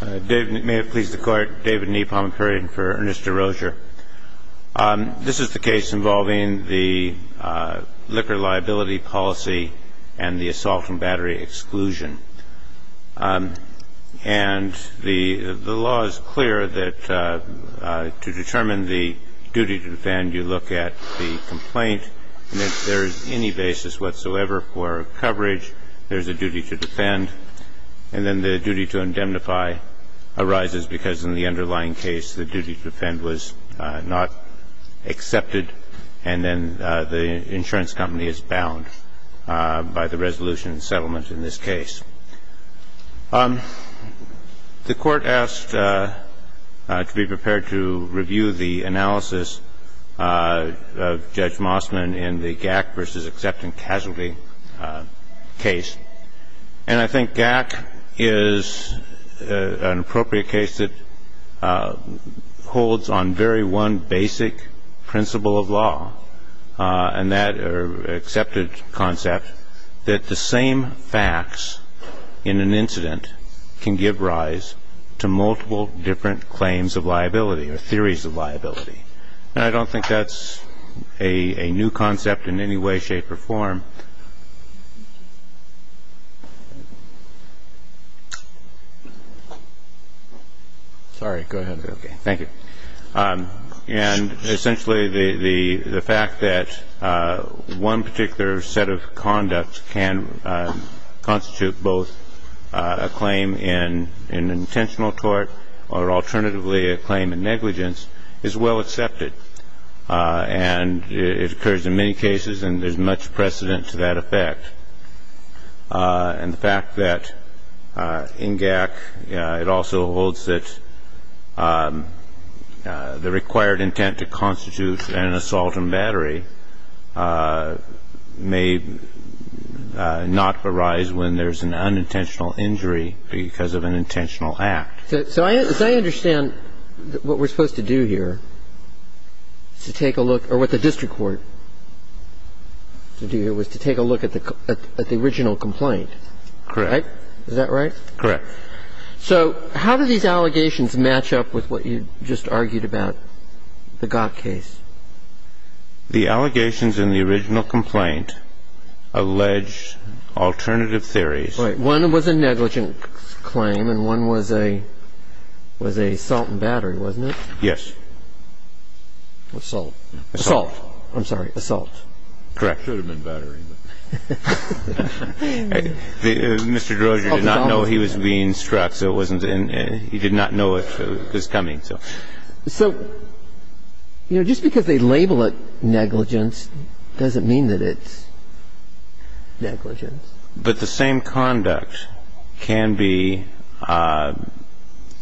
David May have pleased the court. David Nee Palmapurian for Ernest Desrosiers. This is the case involving the liquor liability policy and the assault and battery exclusion. And the law is clear that to determine the duty to defend, you look at the complaint. And if there is any basis whatsoever for coverage, there's a duty to defend. And then the duty to indemnify arises because in the underlying case, the duty to defend was not accepted. And then the insurance company is bound by the resolution and settlement in this case. The court asked to be prepared to review the analysis of Judge Mossman in the GAC v. And I think GAC is an appropriate case that holds on very one basic principle of law. And that accepted concept that the same facts in an incident can give rise to multiple different claims of liability or theories of liability. And I don't think that's a new concept in any way, shape, or form. Sorry. Go ahead. Okay. Thank you. And essentially the fact that one particular set of conducts can constitute both a claim in an intentional court or alternatively a claim in negligence is well accepted. And it occurs in many cases, and there's much precedent to that effect. And the fact that in GAC, it also holds that the required intent to constitute an assault and battery may not arise when there's an unintentional injury because of an intentional act. So as I understand, what we're supposed to do here is to take a look, or what the district court should do here, was to take a look at the original complaint. Correct. Is that right? Correct. So how do these allegations match up with what you just argued about, the GAC case? The allegations in the original complaint allege alternative theories. One was a negligence claim, and one was a assault and battery, wasn't it? Yes. Assault. Assault. I'm sorry. Assault. Correct. It should have been battery. Mr. Droger did not know he was being struck, so he did not know it was coming. So just because they label it negligence doesn't mean that it's negligence. But the same conduct can be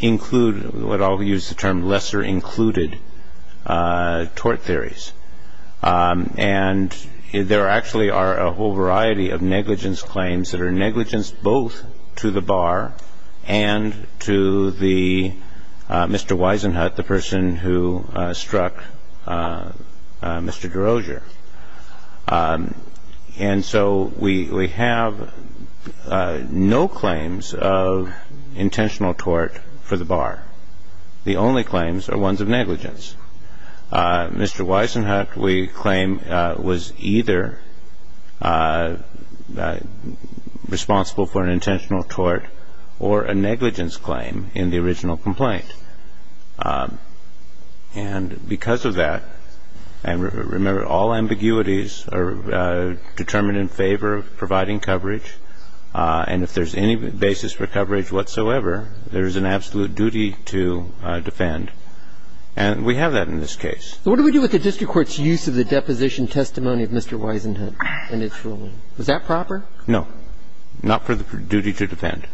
included. I'll use the term lesser included tort theories. And there actually are a whole variety of negligence claims that are negligence both to the bar and to Mr. Wisenhut, the person who struck Mr. Droger. And so we have no claims of intentional tort for the bar. The only claims are ones of negligence. Mr. Wisenhut, we claim, was either responsible for an intentional tort or a negligence claim in the original complaint. And because of that, and remember, all ambiguities are determined in favor of providing coverage. And if there's any basis for coverage whatsoever, there is an absolute duty to defend. And we have that in this case. What do we do with the district court's use of the deposition testimony of Mr. Wisenhut in its ruling? Was that proper? No. Not for the duty to defend.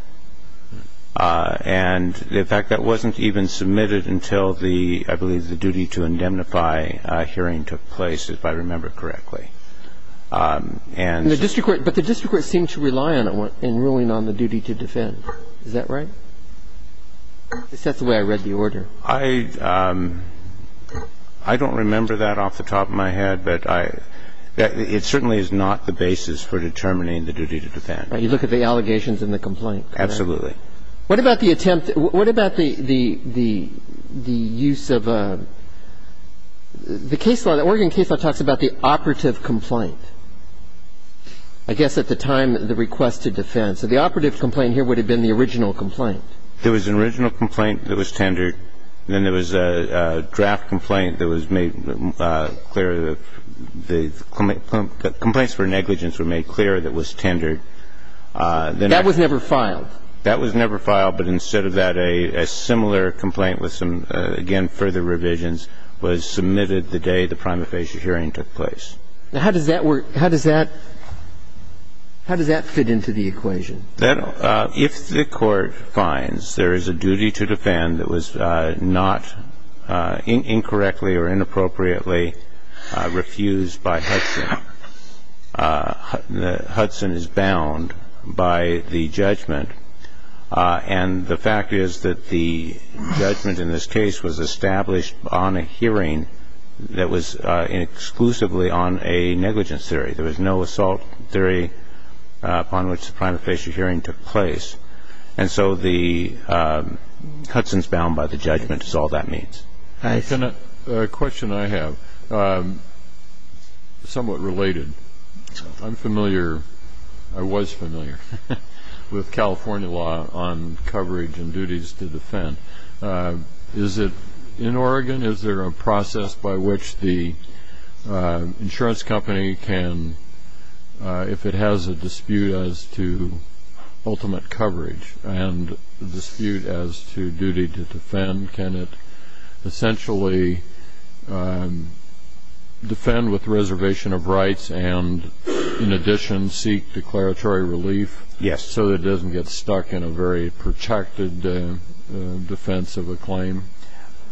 And, in fact, that wasn't even submitted until the, I believe, the duty to indemnify hearing took place, if I remember correctly. And the district court, but the district court seemed to rely on it in ruling on the duty to defend. Is that right? That's the way I read the order. I don't remember that off the top of my head, but it certainly is not the basis for determining the duty to defend. Right. You look at the allegations in the complaint. Absolutely. What about the attempt, what about the use of a, the case law, the Oregon case law talks about the operative complaint. I guess at the time, the request to defend. So the operative complaint here would have been the original complaint. There was an original complaint that was tendered. Then there was a draft complaint that was made clear, the complaints for negligence were made clear that was tendered. That was never filed? That was never filed. But instead of that, a similar complaint with some, again, further revisions was submitted the day the prima facie hearing took place. Now, how does that work, how does that, how does that fit into the equation? If the court finds there is a duty to defend that was not incorrectly or inappropriately refused by Hudson, Hudson is bound by the judgment. And the fact is that the judgment in this case was established on a hearing that was exclusively on a negligence theory. There was no assault theory upon which the prima facie hearing took place. And so the, Hudson's bound by the judgment is all that means. A question I have, somewhat related. I'm familiar, I was familiar with California law on coverage and duties to defend. Is it, in Oregon, is there a process by which the insurance company can, if it has a dispute as to ultimate coverage and dispute as to duty to defend, can it essentially defend with reservation of rights and, in addition, seek declaratory relief? Yes. So it doesn't get stuck in a very protracted defense of a claim?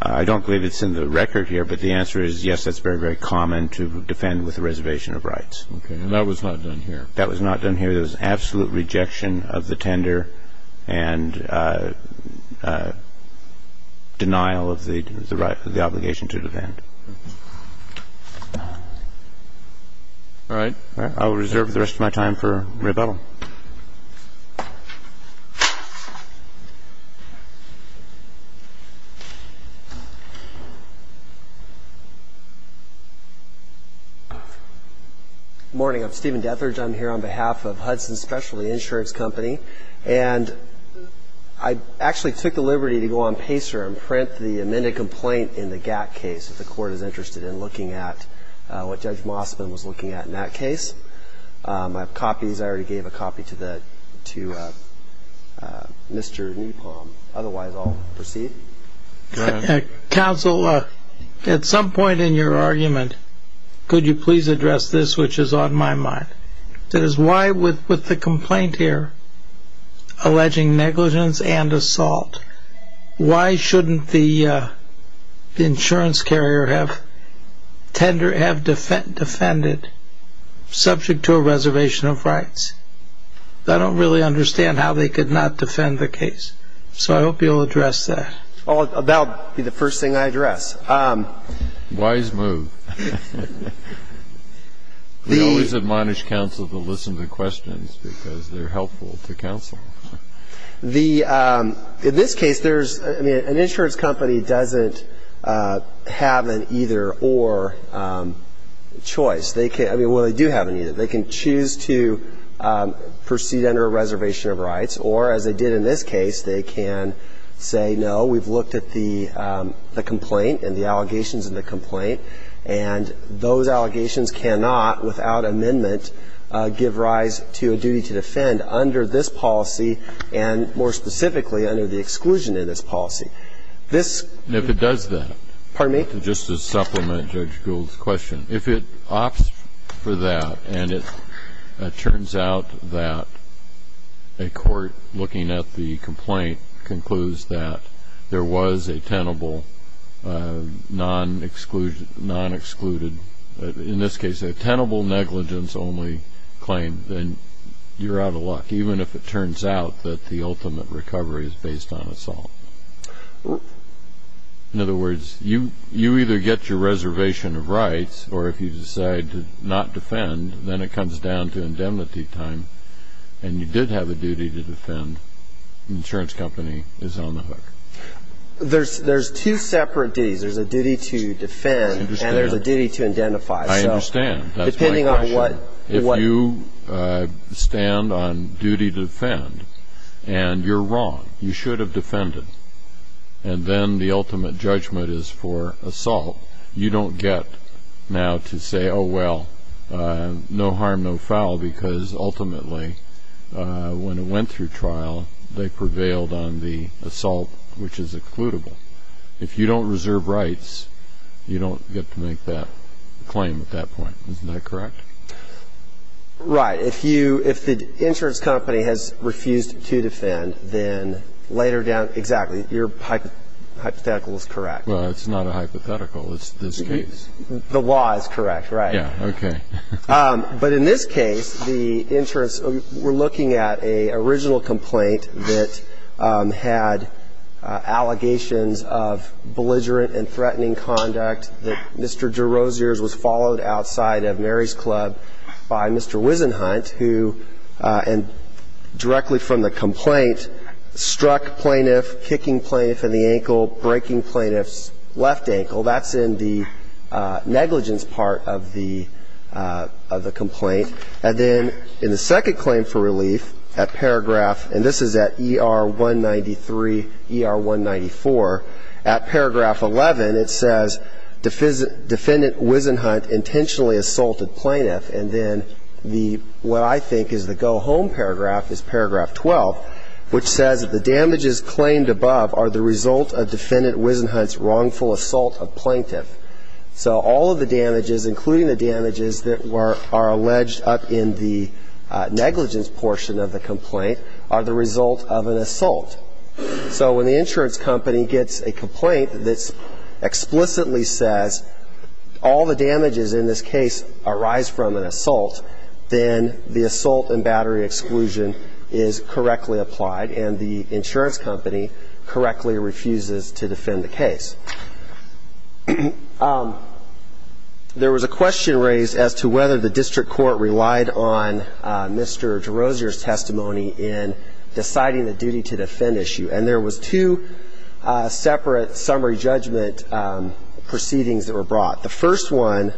I don't believe it's in the record here, but the answer is yes, that's very, very common to defend with a reservation of rights. Okay. And that was not done here? That was not done here. There was absolute rejection of the tender and denial of the right, the obligation to defend. All right. I will reserve the rest of my time for rebuttal. Good morning. I'm Stephen Dethridge. I'm here on behalf of Hudson's Specialty Insurance Company. And I actually took the liberty to go on PACER and print the amended complaint if the court is interested in looking at what Judge Mossman was looking at in that case. I have copies. I already gave a copy to Mr. Newpalm. Otherwise, I'll proceed. Counsel, at some point in your argument, could you please address this, which is on my mind? That is, why with the complaint here alleging negligence and assault, why shouldn't the insurance carrier have defended subject to a reservation of rights? I don't really understand how they could not defend the case. So I hope you'll address that. That will be the first thing I address. Wise move. We always admonish counsel to listen to questions because they're helpful to counsel. In this case, an insurance company doesn't have an either-or choice. Well, they do have an either. They can choose to proceed under a reservation of rights, or, as they did in this case, they can say, no, we've looked at the complaint and the allegations in the complaint, and those allegations cannot, without amendment, give rise to a duty to defend under this policy and, more specifically, under the exclusion in this policy. If it does that, just to supplement Judge Gould's question, if it opts for that and it turns out that a court looking at the complaint concludes that there was a tenable non-excluded, in this case a tenable negligence-only claim, then you're out of luck, even if it turns out that the ultimate recovery is based on assault. In other words, you either get your reservation of rights, or if you decide to not defend, then it comes down to indemnity time, and you did have a duty to defend. The insurance company is on the hook. There's two separate duties. There's a duty to defend and there's a duty to identify. I understand. That's my question. If you stand on duty to defend and you're wrong, you should have defended, and then the ultimate judgment is for assault, you don't get now to say, oh, well, no harm, no foul, because ultimately when it went through trial, they prevailed on the assault, which is occludable. If you don't reserve rights, you don't get to make that claim at that point. Is that correct? Right. If the insurance company has refused to defend, then later down, exactly, your hypothetical is correct. Well, it's not a hypothetical. It's this case. The law is correct, right. Yeah, okay. But in this case, the insurance, we're looking at an original complaint that had allegations of belligerent and threatening conduct, that Mr. DeRosiers was followed outside of Mary's Club by Mr. Wisenhunt, who, and directly from the complaint, struck plaintiff, kicking plaintiff in the ankle, breaking plaintiff's left ankle. That's in the negligence part of the complaint. And then in the second claim for relief, at paragraph, and this is at ER193, ER194, at paragraph 11, it says, Defendant Wisenhunt intentionally assaulted plaintiff. And then what I think is the go-home paragraph is paragraph 12, which says that the damages claimed above are the result of Defendant Wisenhunt's wrongful assault of plaintiff. So all of the damages, including the damages that are alleged up in the negligence portion of the complaint, are the result of an assault. So when the insurance company gets a complaint that explicitly says, all the damages in this case arise from an assault, then the assault and battery exclusion is correctly applied, and the insurance company correctly refuses to defend the case. There was a question raised as to whether the district court relied on Mr. Rosier's testimony in deciding the duty to defend issue. And there was two separate summary judgment proceedings that were brought. The first one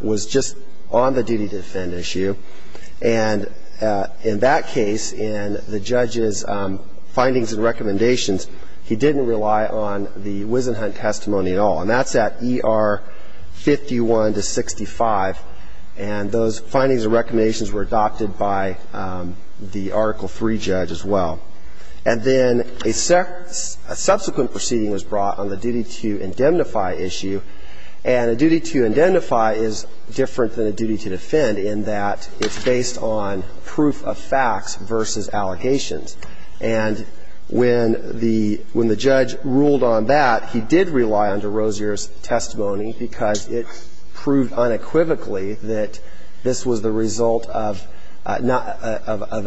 was just on the duty to defend issue. And in that case, in the judge's findings and recommendations, he didn't rely on the Wisenhunt testimony at all. And that's at ER51 to 65. And those findings and recommendations were adopted by the Article III judge as well. And then a subsequent proceeding was brought on the duty to indemnify issue. And a duty to indemnify is different than a duty to defend in that it's based on proof of facts versus allegations. And when the judge ruled on that, he did rely on Mr. Rosier's testimony because it proved unequivocally that this was the result of an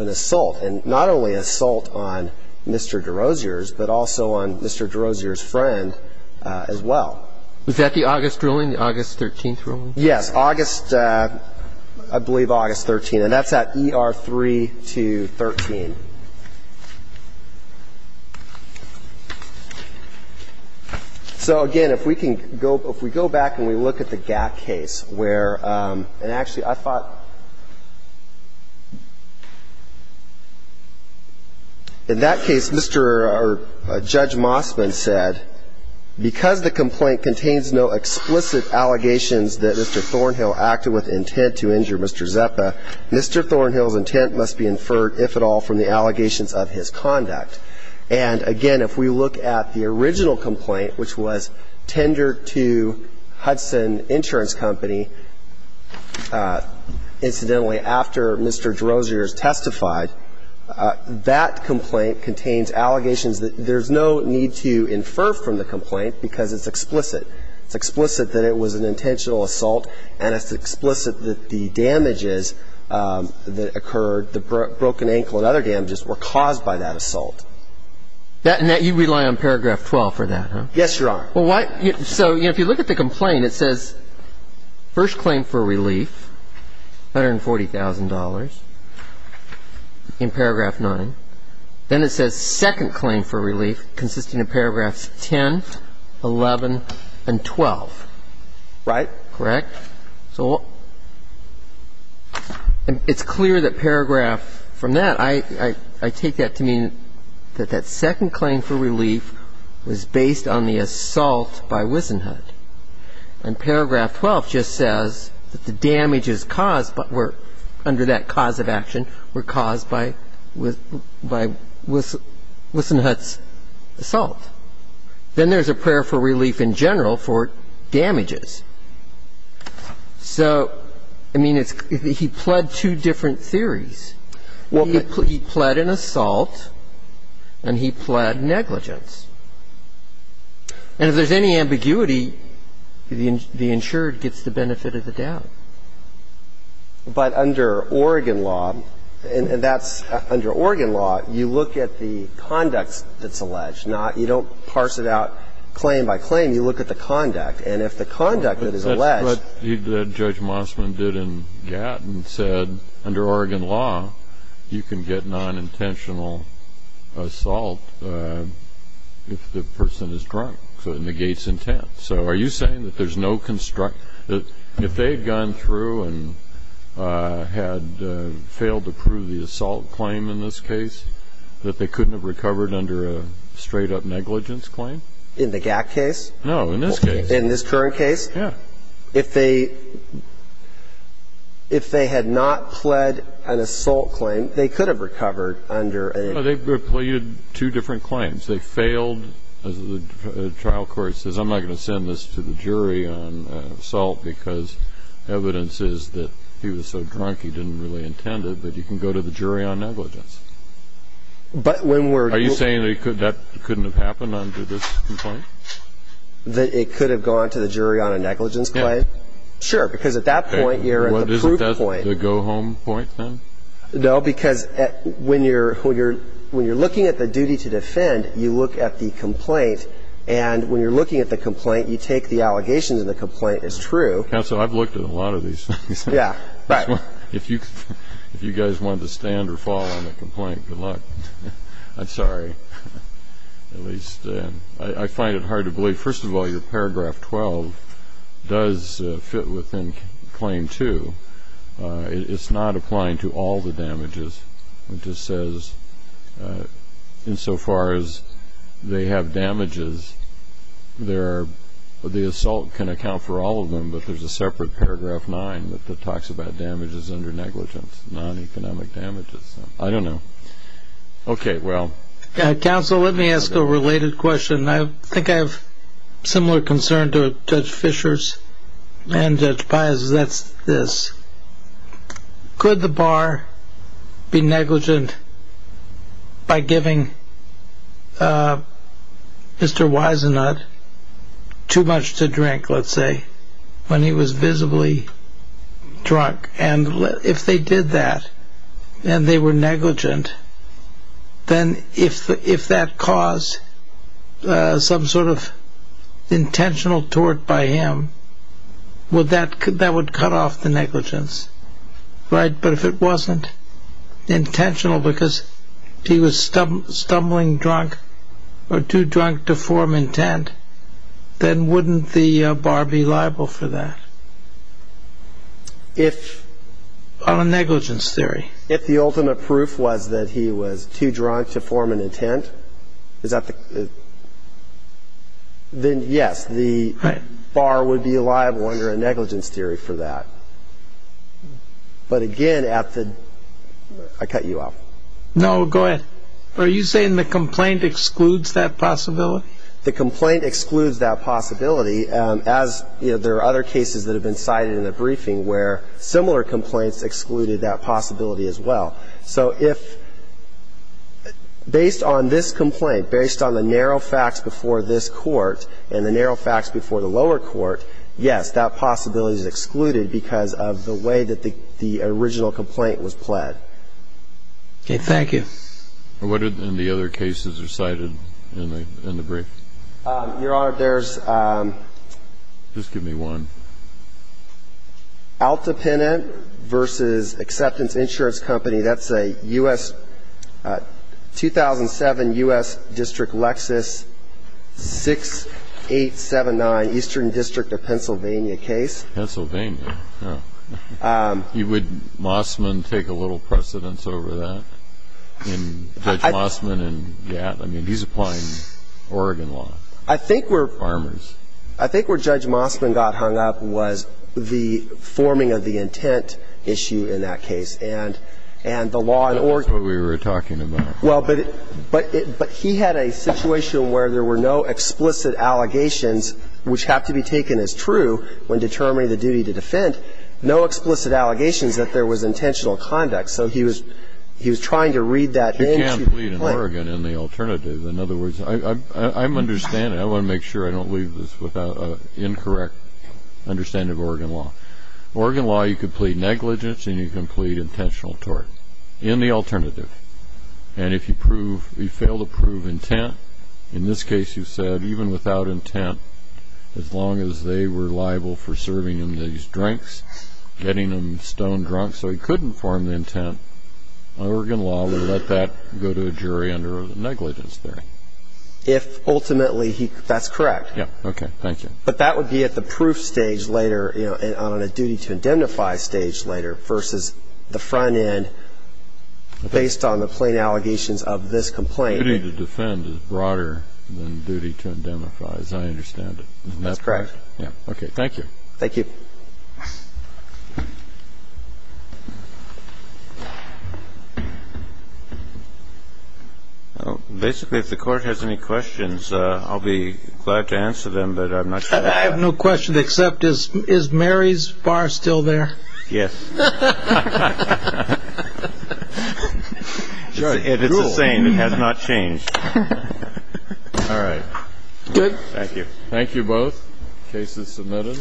assault, and not only assault on Mr. DeRosier's but also on Mr. DeRosier's friend as well. Was that the August ruling, the August 13th ruling? Yes, August, I believe August 13th. And that's at ER3 to 13. So, again, if we can go back and we look at the Gap case where, and actually I thought in that case, Mr. or Judge Mossman said, because the complaint contains no explicit allegations that Mr. Thornhill acted with intent to injure Mr. Zepa, Mr. Thornhill's intent must be inferred, if at all, from the allegations of his conduct. And, again, if we look at the original complaint, which was tendered to Hudson Insurance Company, incidentally, after Mr. DeRosier's testified, that complaint contains allegations that there's no need to infer from the complaint because it's explicit. It's explicit that it was an intentional assault, and it's explicit that the damages that occurred, the broken ankle and other damages, were caused by that assault. And that you rely on paragraph 12 for that, huh? Yes, Your Honor. Well, so if you look at the complaint, it says first claim for relief, $140,000, in paragraph 9. Then it says second claim for relief consisting of paragraphs 10, 11, and 12. Right. Correct? So it's clear that paragraph, from that, I take that to mean that that second claim for relief was based on the assault by Wissenhut. And paragraph 12 just says that the damages caused were, under that cause of action, were caused by Wissenhut's assault. by Wissenhut's assault. Then there's a prayer for relief in general for damages. So, I mean, he pled two different theories. He pled an assault, and he pled negligence. And if there's any ambiguity, the insured gets the benefit of the doubt. But under Oregon law, and that's under Oregon law, you look at the conducts that's alleged. You don't parse it out claim by claim. You look at the conduct. And if the conduct that is alleged. But Judge Mossman did in Gatton said, under Oregon law, you can get nonintentional assault if the person is drunk. So it negates intent. So are you saying that there's no construct? If they had gone through and had failed to prove the assault claim in this case, that they couldn't have recovered under a straight-up negligence claim? In the Gatt case? No, in this case. In this current case? Yeah. If they had not pled an assault claim, they could have recovered under a... Well, they've pleaded two different claims. If they failed, as the trial court says, I'm not going to send this to the jury on assault because evidence is that he was so drunk he didn't really intend it. But you can go to the jury on negligence. But when we're... Are you saying that that couldn't have happened under this complaint? That it could have gone to the jury on a negligence claim? Yeah. Sure, because at that point, you're at the proof point. Isn't that the go-home point then? No, because when you're looking at the duty to defend, you look at the complaint, and when you're looking at the complaint, you take the allegations in the complaint as true. Counsel, I've looked at a lot of these. Yeah. Right. If you guys want to stand or fall on the complaint, good luck. I'm sorry. At least I find it hard to believe. First of all, your paragraph 12 does fit within Claim 2. It's not applying to all the damages. It just says insofar as they have damages, the assault can account for all of them, but there's a separate paragraph 9 that talks about damages under negligence, non-economic damages. I don't know. Okay, well... Counsel, let me ask a related question. I think I have similar concern to Judge Fischer's and Judge Baez's. That's this. Could the bar be negligent by giving Mr. Wisenut too much to drink, let's say, when he was visibly drunk? And if they did that and they were negligent, then if that caused some sort of intentional tort by him, that would cut off the negligence, right? But if it wasn't intentional because he was stumbling drunk or too drunk to form intent, then wouldn't the bar be liable for that? If... On a negligence theory. If the ultimate proof was that he was too drunk to form an intent, then yes, the bar would be liable under a negligence theory for that. But again, at the... I cut you off. No, go ahead. Are you saying the complaint excludes that possibility? The complaint excludes that possibility. There are other cases that have been cited in the briefing where similar complaints excluded that possibility as well. So if... based on this complaint, based on the narrow facts before this court and the narrow facts before the lower court, yes, that possibility is excluded because of the way that the original complaint was pled. Okay. Thank you. What other cases are cited in the brief? Your Honor, there's... Just give me one. Out Dependent v. Acceptance Insurance Company. That's a 2007 U.S. District Lexus 6879 Eastern District of Pennsylvania case. Pennsylvania. You would, Mossman, take a little precedence over that in Judge Mossman and Gatt? I mean, he's applying Oregon law. I think we're... Farmers. I think where Judge Mossman got hung up was the forming of the intent issue in that case. And the law in Oregon... That's what we were talking about. Well, but he had a situation where there were no explicit allegations which have to be taken as true when determining the duty to defend, So he was trying to read that into... You can't plead in Oregon in the alternative. In other words, I'm understanding... I want to make sure I don't leave this without an incorrect understanding of Oregon law. In Oregon law, you can plead negligence and you can plead intentional tort in the alternative. And if you prove... you fail to prove intent, in this case you said even without intent, as long as they were liable for serving him these drinks, getting him stone drunk so he would not go to a jury under negligence there. If ultimately he... that's correct. Yeah. Okay. Thank you. But that would be at the proof stage later and on a duty to indemnify stage later versus the front end based on the plain allegations of this complaint. Duty to defend is broader than duty to indemnify as I understand it. Isn't that correct? That's correct. Yeah. Okay. Thank you. Thank you. Basically, if the court has any questions, I'll be glad to answer them, but I'm not sure... I have no question except is Mary's bar still there? Yes. It's the same. It has not changed. All right. Good. Thank you. Thank you both. Case is submitted.